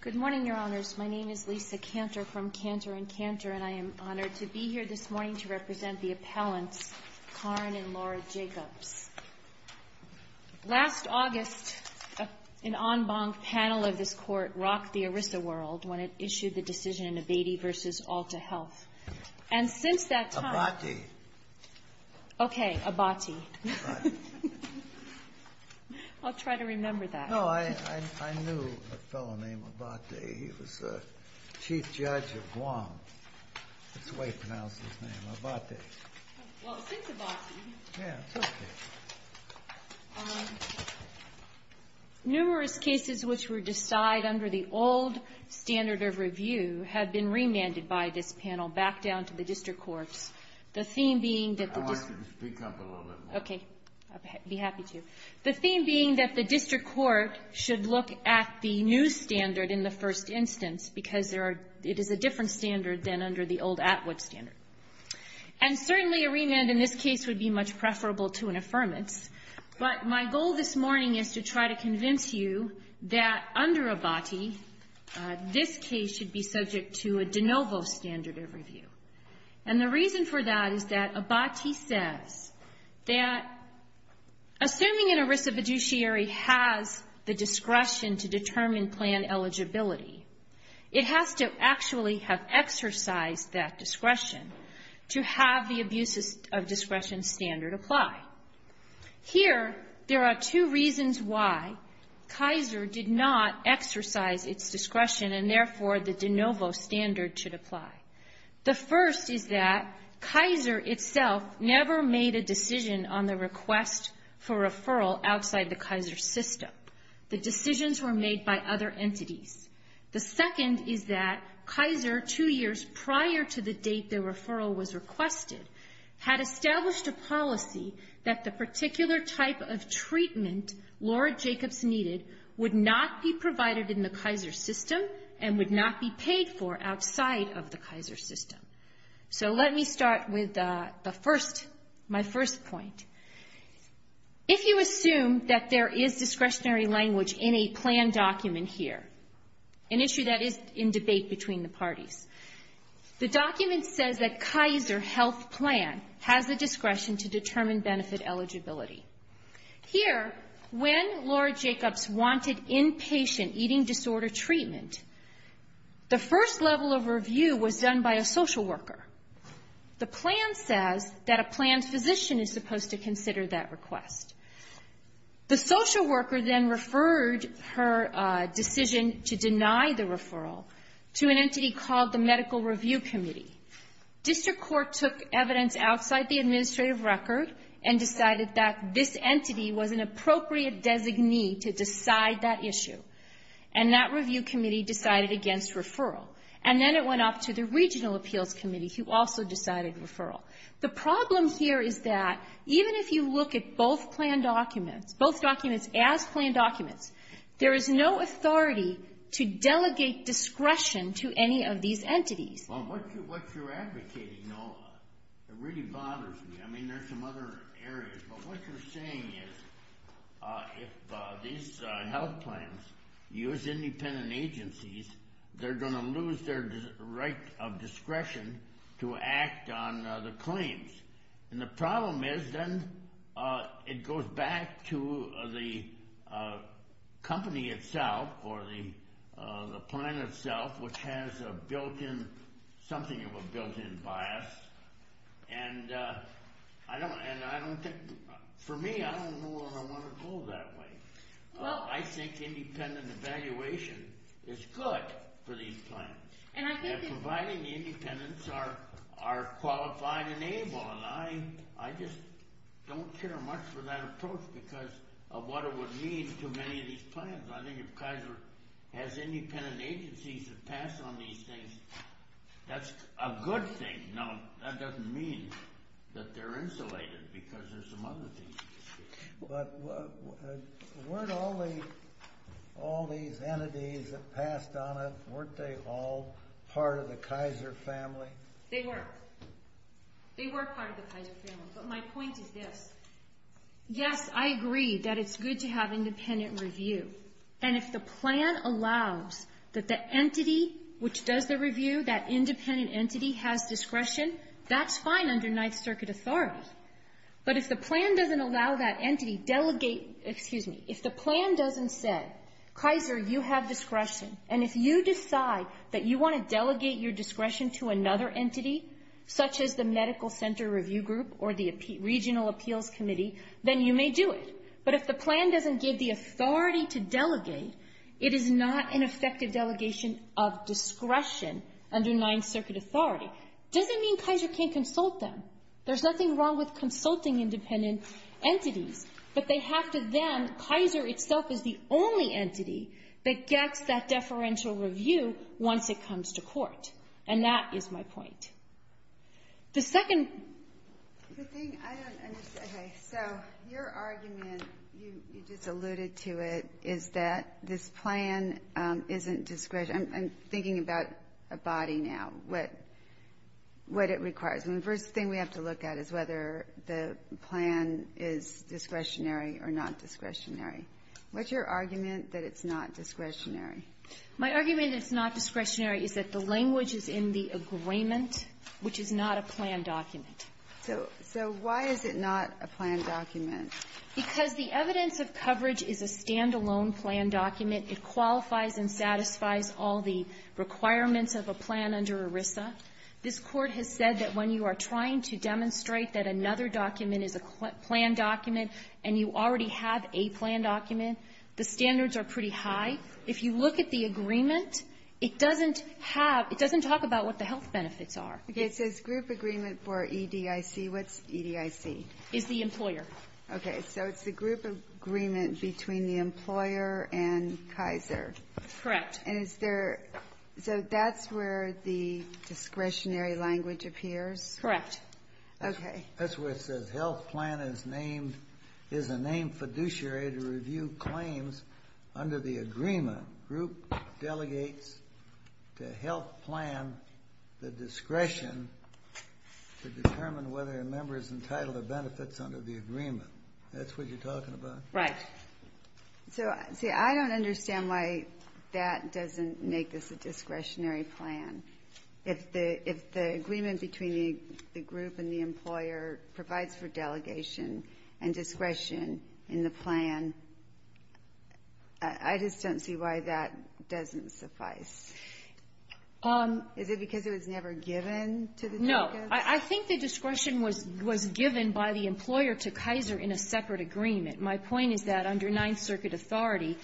Good morning, Your Honors. My name is Lisa Cantor from Cantor & Cantor, and I am honored to be here this morning to represent the appellants, Karin and Laura Jacobs. Last August, an en banc panel of this Court rocked the ERISA world when it issued the decision in Abatey v. Alta Health. And since that time... Abatey. Okay, Abatey. I'll try to remember that. No, I knew a fellow named Abatey. He was Chief Judge of Guam. That's the way he pronounced his name, Abatey. Well, since Abatey... Yeah, it's okay. Numerous cases which were decided under the old standard of review have been remanded by this panel back down to the district courts, the theme being that the district... I want you to speak up a little bit more. Okay. I'd be happy to. The theme being that the district court should look at the new standard in the first instance because it is a different standard than under the old Atwood standard. And certainly a remand in this case would be much preferable to an affirmance, but my goal this morning is to try to convince you that under Abatey, this case should be subject to a de novo standard of review. And the reason for that is that Abatey says that assuming an erisa fiduciary has the discretion to determine plan eligibility, it has to actually have exercised that discretion to have the abuses of discretion standard apply. Here, there are two reasons why Kaiser did not exercise its discretion and therefore the de novo standard should apply. The first is that Kaiser itself never made a decision on the request for referral outside the Kaiser system. The decisions were made by other entities. The second is that Kaiser, two years prior to the date the referral was requested, had established a policy that the particular type of treatment Lord Jacobs needed would not be provided in the Kaiser system and would not be paid for outside of the Kaiser system. So let me start with my first point. If you assume that there is discretionary language in a plan document here, an issue that is in debate between the parties, the document says that Kaiser health plan has the discretion to determine benefit eligibility. Here, when Lord Jacobs wanted inpatient eating disorder treatment, the first level of review was done by a social worker. The plan says that a planned physician is supposed to consider that request. The social worker then referred her decision to deny the referral to an entity called the Medical Review Committee. District court took evidence outside the administrative record and decided that this entity was an appropriate designee to decide that issue. And that review committee decided against referral. And then it went off to the Regional Appeals Committee, who also decided referral. The problem here is that even if you look at both plan documents, both documents as planned documents, there is no authority to delegate discretion to any of these entities. Well, what you're advocating, Noah, it really bothers me. I mean, there are some other areas. But what you're saying is if these health plans use independent agencies, they're going to lose their right of discretion to act on the claims. And the problem is then it goes back to the company itself or the plan itself, which has a built-in, something of a built-in bias. And I don't think, for me, I don't know where I want to go that way. I think independent evaluation is good for these plans. And providing the independents are qualified and able. And I just don't care much for that approach because of what it would mean to many of these plans. I think if Kaiser has independent agencies that pass on these things, that's a good thing. Now, that doesn't mean that they're insulated because there's some other things you can say. But weren't all these entities that passed on it, weren't they all part of the Kaiser family? They were. They were part of the Kaiser family. But my point is this. Yes, I agree that it's good to have independent review. And if the plan allows that the entity which does the review, that independent entity, has discretion, that's fine under Ninth Circuit authority. But if the plan doesn't allow that entity delegate, excuse me, if the plan doesn't say, Kaiser, you have discretion, and if you decide that you want to delegate your discretion to another entity, such as the Medical Center Review Group or the Regional Appeals Committee, then you may do it. But if the plan doesn't give the authority to delegate, it is not an effective delegation of discretion under Ninth Circuit authority. Doesn't mean Kaiser can't consult them. There's nothing wrong with consulting independent entities. But they have to then, Kaiser itself is the only entity that gets that deferential review once it comes to court. And that is my point. The second... The thing I don't understand. Okay. So your argument, you just alluded to it, is that this plan isn't discretionary. I'm thinking about a body now, what it requires. And the first thing we have to look at is whether the plan is discretionary or not discretionary. What's your argument that it's not discretionary? My argument it's not discretionary is that the language is in the agreement, which is not a plan document. So why is it not a plan document? Because the evidence of coverage is a standalone plan document. It qualifies and satisfies all the requirements of a plan under ERISA. This Court has said that when you are trying to demonstrate that another document is a plan document and you already have a plan document, the standards are pretty high. If you look at the agreement, it doesn't have, it doesn't talk about what the health benefits are. Okay. It says group agreement for EDIC. What's EDIC? It's the employer. Okay. So it's the group agreement between the employer and Kaiser. Correct. And is there... So that's where the discretionary language appears? Correct. Okay. That's where it says health plan is named, is a named fiduciary to review claims under the agreement. Group delegates to health plan the discretion to determine whether a member is entitled to benefits under the agreement. That's what you're talking about? Right. So, see, I don't understand why that doesn't make this a discretionary plan. If the agreement between the group and the employer provides for delegation and discretion in the plan, I just don't see why that doesn't suffice. Is it because it was never given to the... No. I think the discretion was given by the employer to Kaiser in a separate agreement. My point is that under Ninth Circuit authority,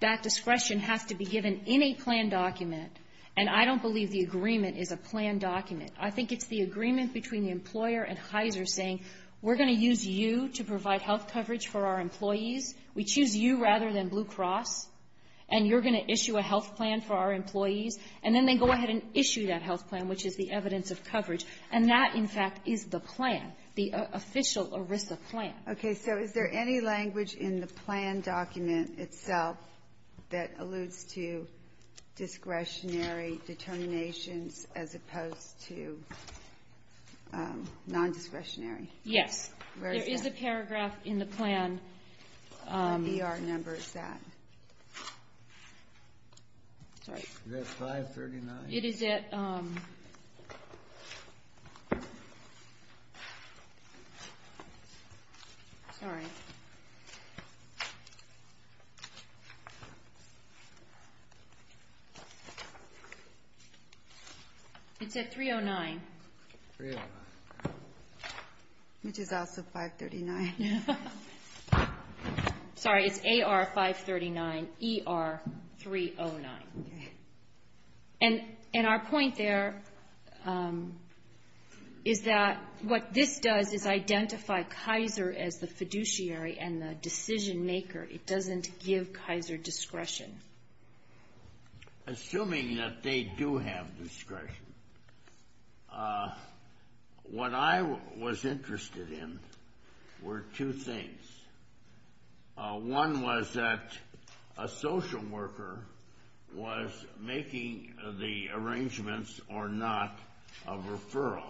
that discretion has to be given in a plan document, and I don't believe the agreement is a plan document. I think it's the agreement between the employer and Kaiser saying, We're going to use you to provide health coverage for our employees. We choose you rather than Blue Cross, and you're going to issue a health plan for our employees. And then they go ahead and issue that health plan, which is the evidence of coverage. And that, in fact, is the plan, the official ERISA plan. Okay. So is there any language in the plan document itself that alludes to discretionary determinations as opposed to nondiscretionary? Yes. Where is that? There is a paragraph in the plan. What E.R. number is that? Sorry. Is that 539? It is at... Sorry. It's at 309. 309. Which is also 539. Yeah. Sorry. It's A.R. 539, E.R. 309. Okay. And our point there is that what this does is identify Kaiser as the fiduciary and the decision-maker. It doesn't give Kaiser discretion. Assuming that they do have discretion, what I was interested in were two things. One was that a social worker was making the arrangements or not of referral.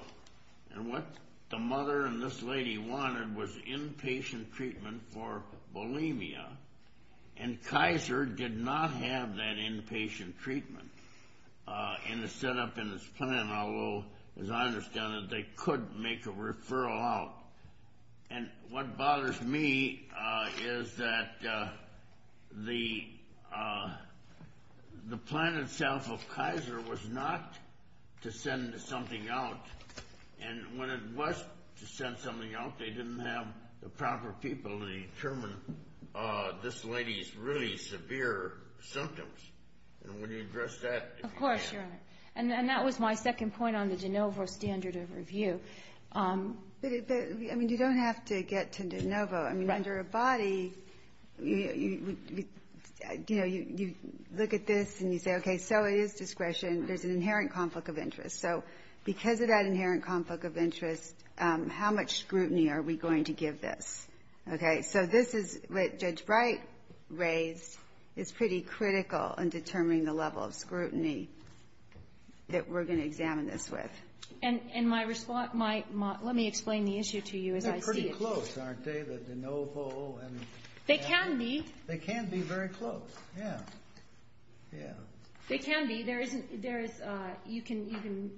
And what the mother and this lady wanted was inpatient treatment for bulimia, and Kaiser did not have that inpatient treatment in the setup in this plan, although, as I understand it, they could make a referral out. And what bothers me is that the plan itself of Kaiser was not to send something out, and when it was to send something out, they didn't have the proper people to be able to determine this lady's really severe symptoms. And when you address that... Of course, Your Honor. And that was my second point on the de novo standard of review. But, I mean, you don't have to get to de novo. I mean, under a body, you know, you look at this and you say, okay, so it is discretion. There's an inherent conflict of interest. So because of that inherent conflict of interest, how much scrutiny are we going to give this? Okay, so this is what Judge Bright raised is pretty critical in determining the level of scrutiny that we're going to examine this with. And my response... Let me explain the issue to you as I see it. They're pretty close, aren't they? The de novo and... They can be. They can be very close, yeah. Yeah. They can be. There is... You can even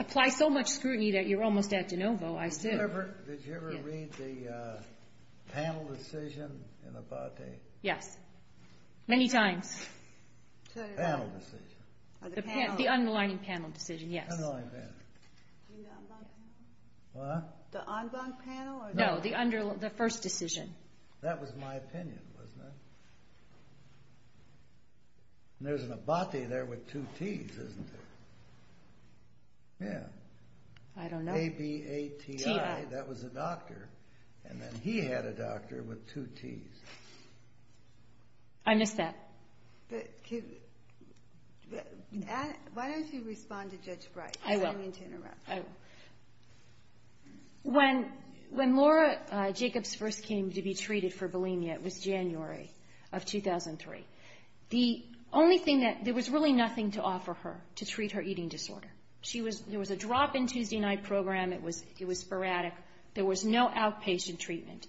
apply so much scrutiny that you're almost at de novo, I assume. Did you ever read the panel decision in Abate? Yes. Many times. Panel decision. The panel. The underlying panel decision, yes. Underlying panel. Do you mean the en banc panel? What? The en banc panel? No, the first decision. That was my opinion, wasn't it? And there's an Abate there with two Ts, isn't there? Yeah. I don't know. A-B-A-T-I. T-I. That was a doctor. And then he had a doctor with two Ts. I missed that. Why don't you respond to Judge Bright? I will. I don't mean to interrupt. I will. When Laura Jacobs first came to be treated for bulimia, it was January of 2003. The only thing that... There was really nothing to offer her to treat her eating disorder. There was a drop-in Tuesday night program. It was sporadic. There was no outpatient treatment.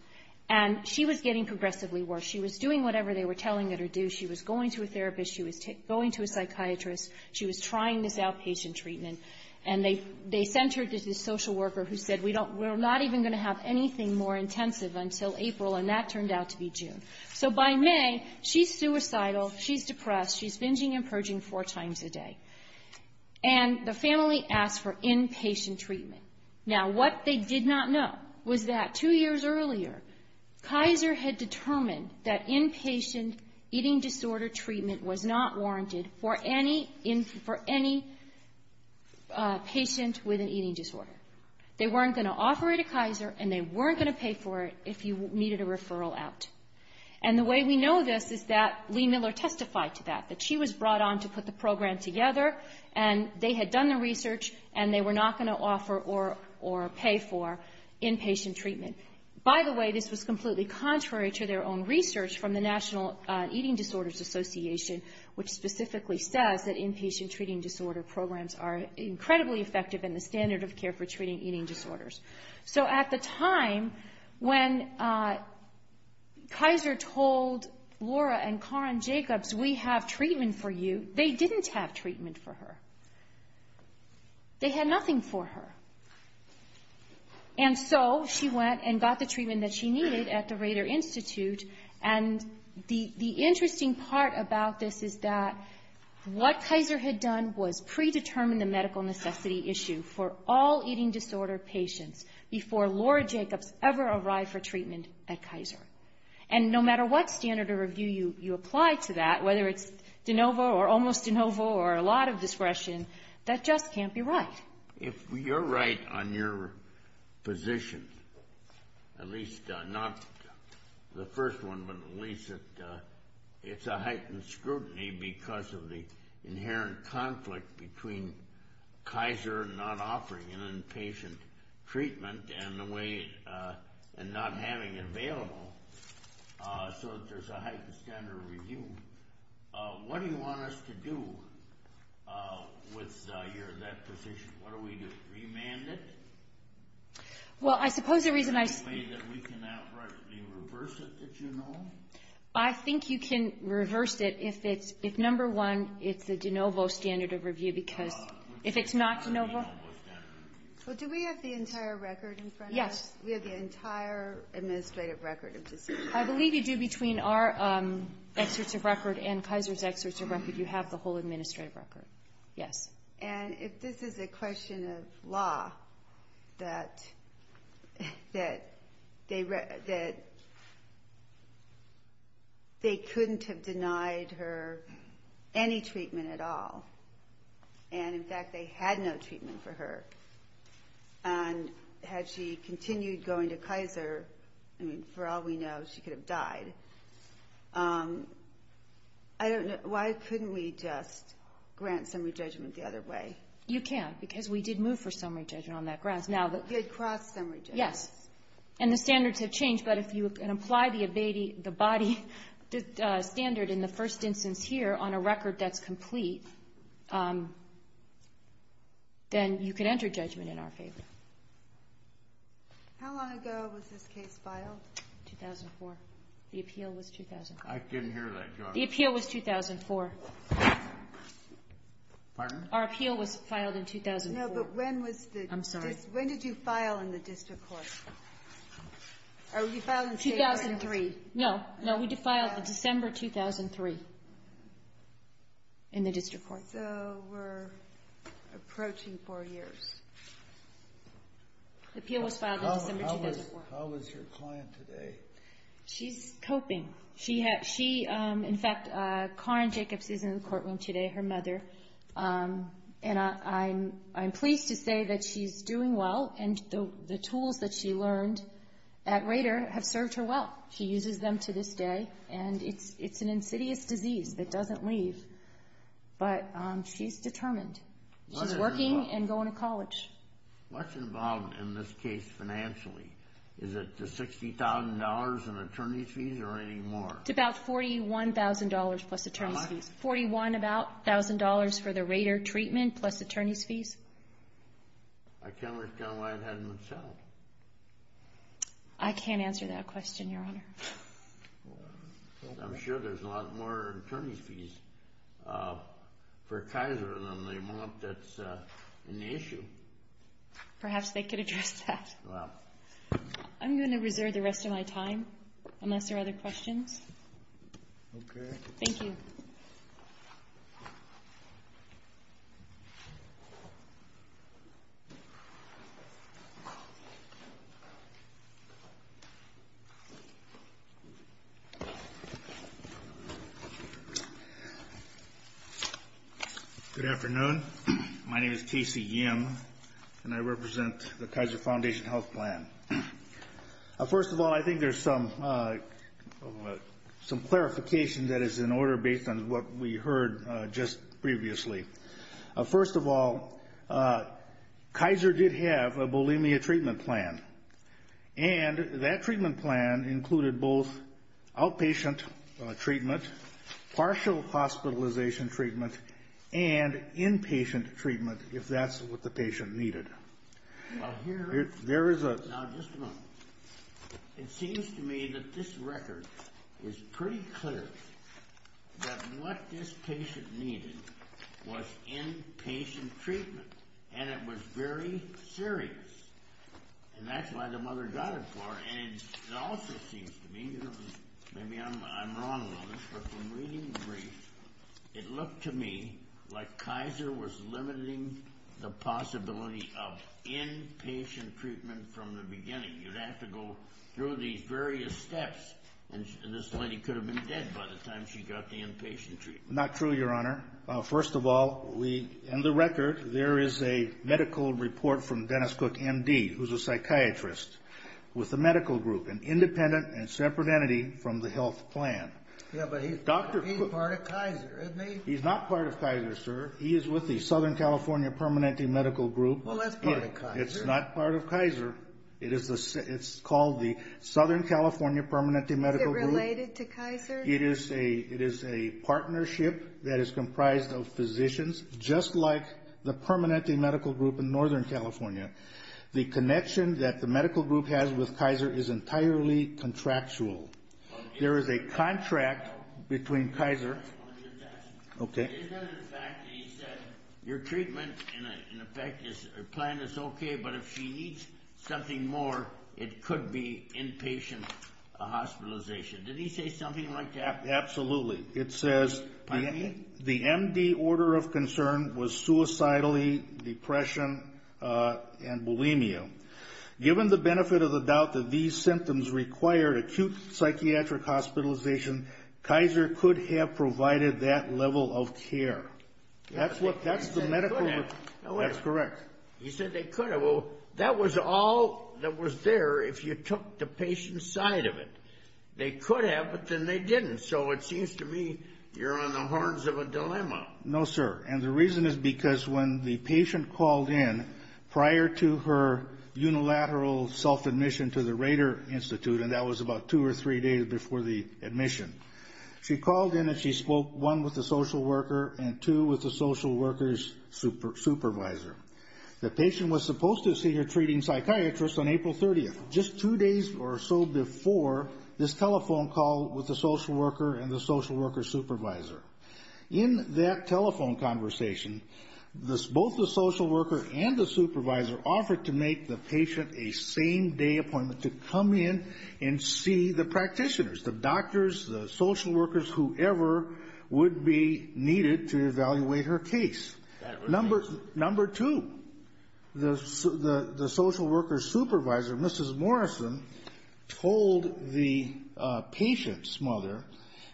And she was getting progressively worse. She was doing whatever they were telling her to do. She was going to a therapist. She was going to a psychiatrist. She was trying this outpatient treatment. And they sent her to this social worker who said, we're not even going to have anything more intensive until April, and that turned out to be June. So by May, she's suicidal. She's depressed. She's binging and purging four times a day. And the family asked for inpatient treatment. Now, what they did not know was that two years earlier, Kaiser had determined that inpatient eating disorder treatment was not warranted for any patient with an eating disorder. They weren't going to offer it to Kaiser and they weren't going to pay for it if you needed a referral out. And the way we know this is that Lee Miller testified to that, that she was brought on to put the program together and they had done the research and they were not going to offer or pay for inpatient treatment. By the way, this was completely contrary to their own research from the National Eating Disorders Association, which specifically says that inpatient treating disorder programs are incredibly effective in the standard of care for treating eating disorders. So at the time, when Kaiser told Laura and Karin Jacobs, we have treatment for you, they didn't have treatment for her. They had nothing for her. And so she went and got the treatment that she needed at the Rader Institute and the interesting part about this is that what Kaiser had done was predetermine the medical necessity issue for all eating disorder patients before Laura Jacobs ever arrived for treatment at Kaiser. And no matter what standard of review you apply to that, whether it's de novo or almost de novo or a lot of discretion, that just can't be right. If you're right on your position, at least not the first one, but at least it's a heightened scrutiny because of the inherent conflict between Kaiser not offering an inpatient treatment and not having it available so that there's a heightened standard of review. What do you want us to do with that position? What do we do, remand it? Well, I suppose the reason I... Is there a way that we can outrightly reverse it, that you know? I think you can reverse it if number one, it's a de novo standard of review because if it's not de novo... Well, do we have the entire record in front of us? We have the entire administrative record of disease. I believe you do between our excerpts of record and Kaiser's excerpts of record. You have the whole administrative record. Yes. And if this is a question of law, that they couldn't have denied her any treatment at all, and in fact they had no treatment for her, and had she continued going to Kaiser, I mean, for all we know, she could have died. I don't know. Why couldn't we just grant summary judgment the other way? You can, because we did move for summary judgment on that grounds. We did cross summary judgment. Yes, and the standards have changed, but if you can apply the ABADE, the body standard in the first instance here on a record that's complete, then you can enter judgment in our favor. How long ago was this case filed? 2004. The appeal was 2004. I didn't hear that. The appeal was 2004. Pardon? Our appeal was filed in 2004. No, but when was the... I'm sorry. When did you file in the district court? Oh, you filed in... 2003. No, no, we filed in December 2003 in the district court. So we're approaching 4 years. The appeal was filed in December 2004. How is your client today? She's coping. She, in fact, Karen Jacobs is in the courtroom today, her mother, and I'm pleased to say that she's doing well, and the tools that she learned at Rader have served her well. She uses them to this day, and it's an insidious disease that doesn't leave, but she's determined. She's working and going to college. What's involved in this case financially? Is it the $60,000 in attorney's fees or any more? It's about $41,000 plus attorney's fees. How much? $41,000 for the Rader treatment plus attorney's fees. I can't understand why it hasn't been settled. I can't answer that question, Your Honor. I'm sure there's a lot more attorney's fees for Kaiser than they want. That's an issue. Perhaps they could address that. Well... I'm going to reserve the rest of my time unless there are other questions. Okay. Thank you. Thank you. Good afternoon. My name is T.C. Yim, and I represent the Kaiser Foundation Health Plan. First of all, I think there's some clarification that is in order based on what we heard just previously. First of all, Kaiser did have a bulimia treatment plan, and that treatment plan included both outpatient treatment, partial hospitalization treatment, and inpatient treatment if that's what the patient needed. Well, here... There is a... Now, just a moment. It seems to me that this record is pretty clear that what this patient needed was inpatient treatment, and it was very serious, and that's why the mother got it for her. And it also seems to me... Maybe I'm wrong on this, but from reading the brief, it looked to me like Kaiser was limiting the possibility of inpatient treatment from the beginning. You'd have to go through these various steps, and this lady could have been dead by the time she got the inpatient treatment. Not true, Your Honor. First of all, in the record, there is a medical report from Dennis Cook, M.D., who's a psychiatrist with a medical group, an independent and separate entity from the health plan. Yeah, but he's part of Kaiser, isn't he? He's not part of Kaiser, sir. He is with the Southern California Permanente Medical Group. Well, that's part of Kaiser. It's not part of Kaiser. It's called the Southern California Permanente Medical Group. Is it related to Kaiser? It is a partnership that is comprised of physicians, just like the Permanente Medical Group in Northern California. The connection that the medical group has with Kaiser is entirely contractual. There is a contract between Kaiser... Okay. Is it a fact that he said, your treatment plan is okay, but if she needs something more, it could be inpatient hospitalization? Did he say something like that? Absolutely. It says the M.D. order of concern was suicidally, depression, and bulimia. Given the benefit of the doubt that these symptoms required acute psychiatric hospitalization, Kaiser could have provided that level of care. That's the medical report. That's correct. He said they could have. Well, that was all that was there if you took the patient's side of it. They could have, but then they didn't. So it seems to me you're on the horns of a dilemma. No, sir. And the reason is because when the patient called in prior to her unilateral self-admission to the Rader Institute, and that was about 2 or 3 days before the admission, she called in and she spoke, one, with the social worker, and two, with the social worker's supervisor. The patient was supposed to see her treating psychiatrist on April 30th, just 2 days or so before this telephone call with the social worker and the social worker's supervisor. In that telephone conversation, both the social worker and the supervisor offered to make the patient a same-day appointment to come in and see the practitioners, the doctors, the social workers, whoever would be needed to evaluate her case. Number 2, the social worker's supervisor, Mrs. Morrison, told the patient's mother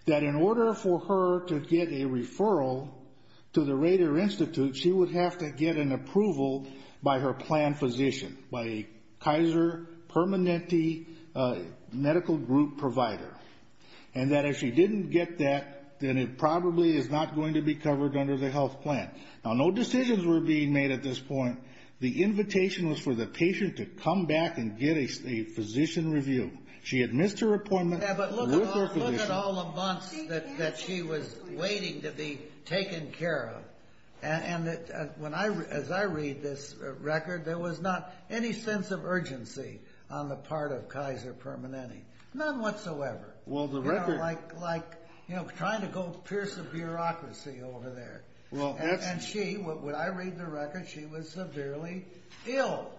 that in order for her to get a referral to the Rader Institute, she would have to get an approval by her planned physician, by a Kaiser Permanente medical group provider, and that if she didn't get that, then it probably is not going to be covered under the health plan. Now, no decisions were being made at this point. The invitation was for the patient to come back and get a physician review. She had missed her appointment with her physician. Yeah, but look at all the months that she was waiting to be taken care of, and as I read this record, there was not any sense of urgency on the part of Kaiser Permanente, none whatsoever. Well, the record... You know, like trying to go pierce the bureaucracy over there. Well, that's... And she, when I read the record, she was severely ill.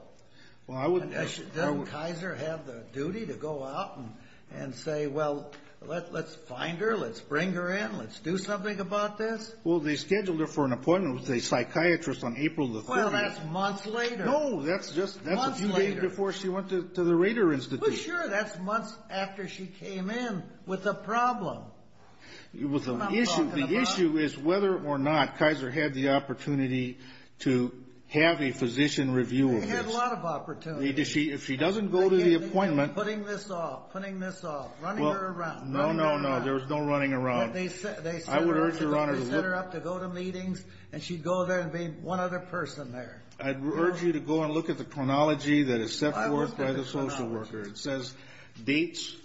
Well, I would... Doesn't Kaiser have the duty to go out and say, well, let's find her, let's bring her in, let's do something about this? Well, they scheduled her for an appointment with a psychiatrist on April the 3rd. Well, that's months later. No, that's just... Months later. That's a few days before she went to the Rader Institute. Are you sure that's months after she came in with a problem? It was an issue. The issue is whether or not Kaiser had the opportunity to have a physician review of this. They had a lot of opportunities. If she doesn't go to the appointment... Putting this off, putting this off, running her around, running her around. No, no, no, there was no running around. They set her up to go to meetings, and she'd go there and be one other person there. I'd urge you to go and look at the chronology that is set forth by the social worker that is set forth by the social worker. It says...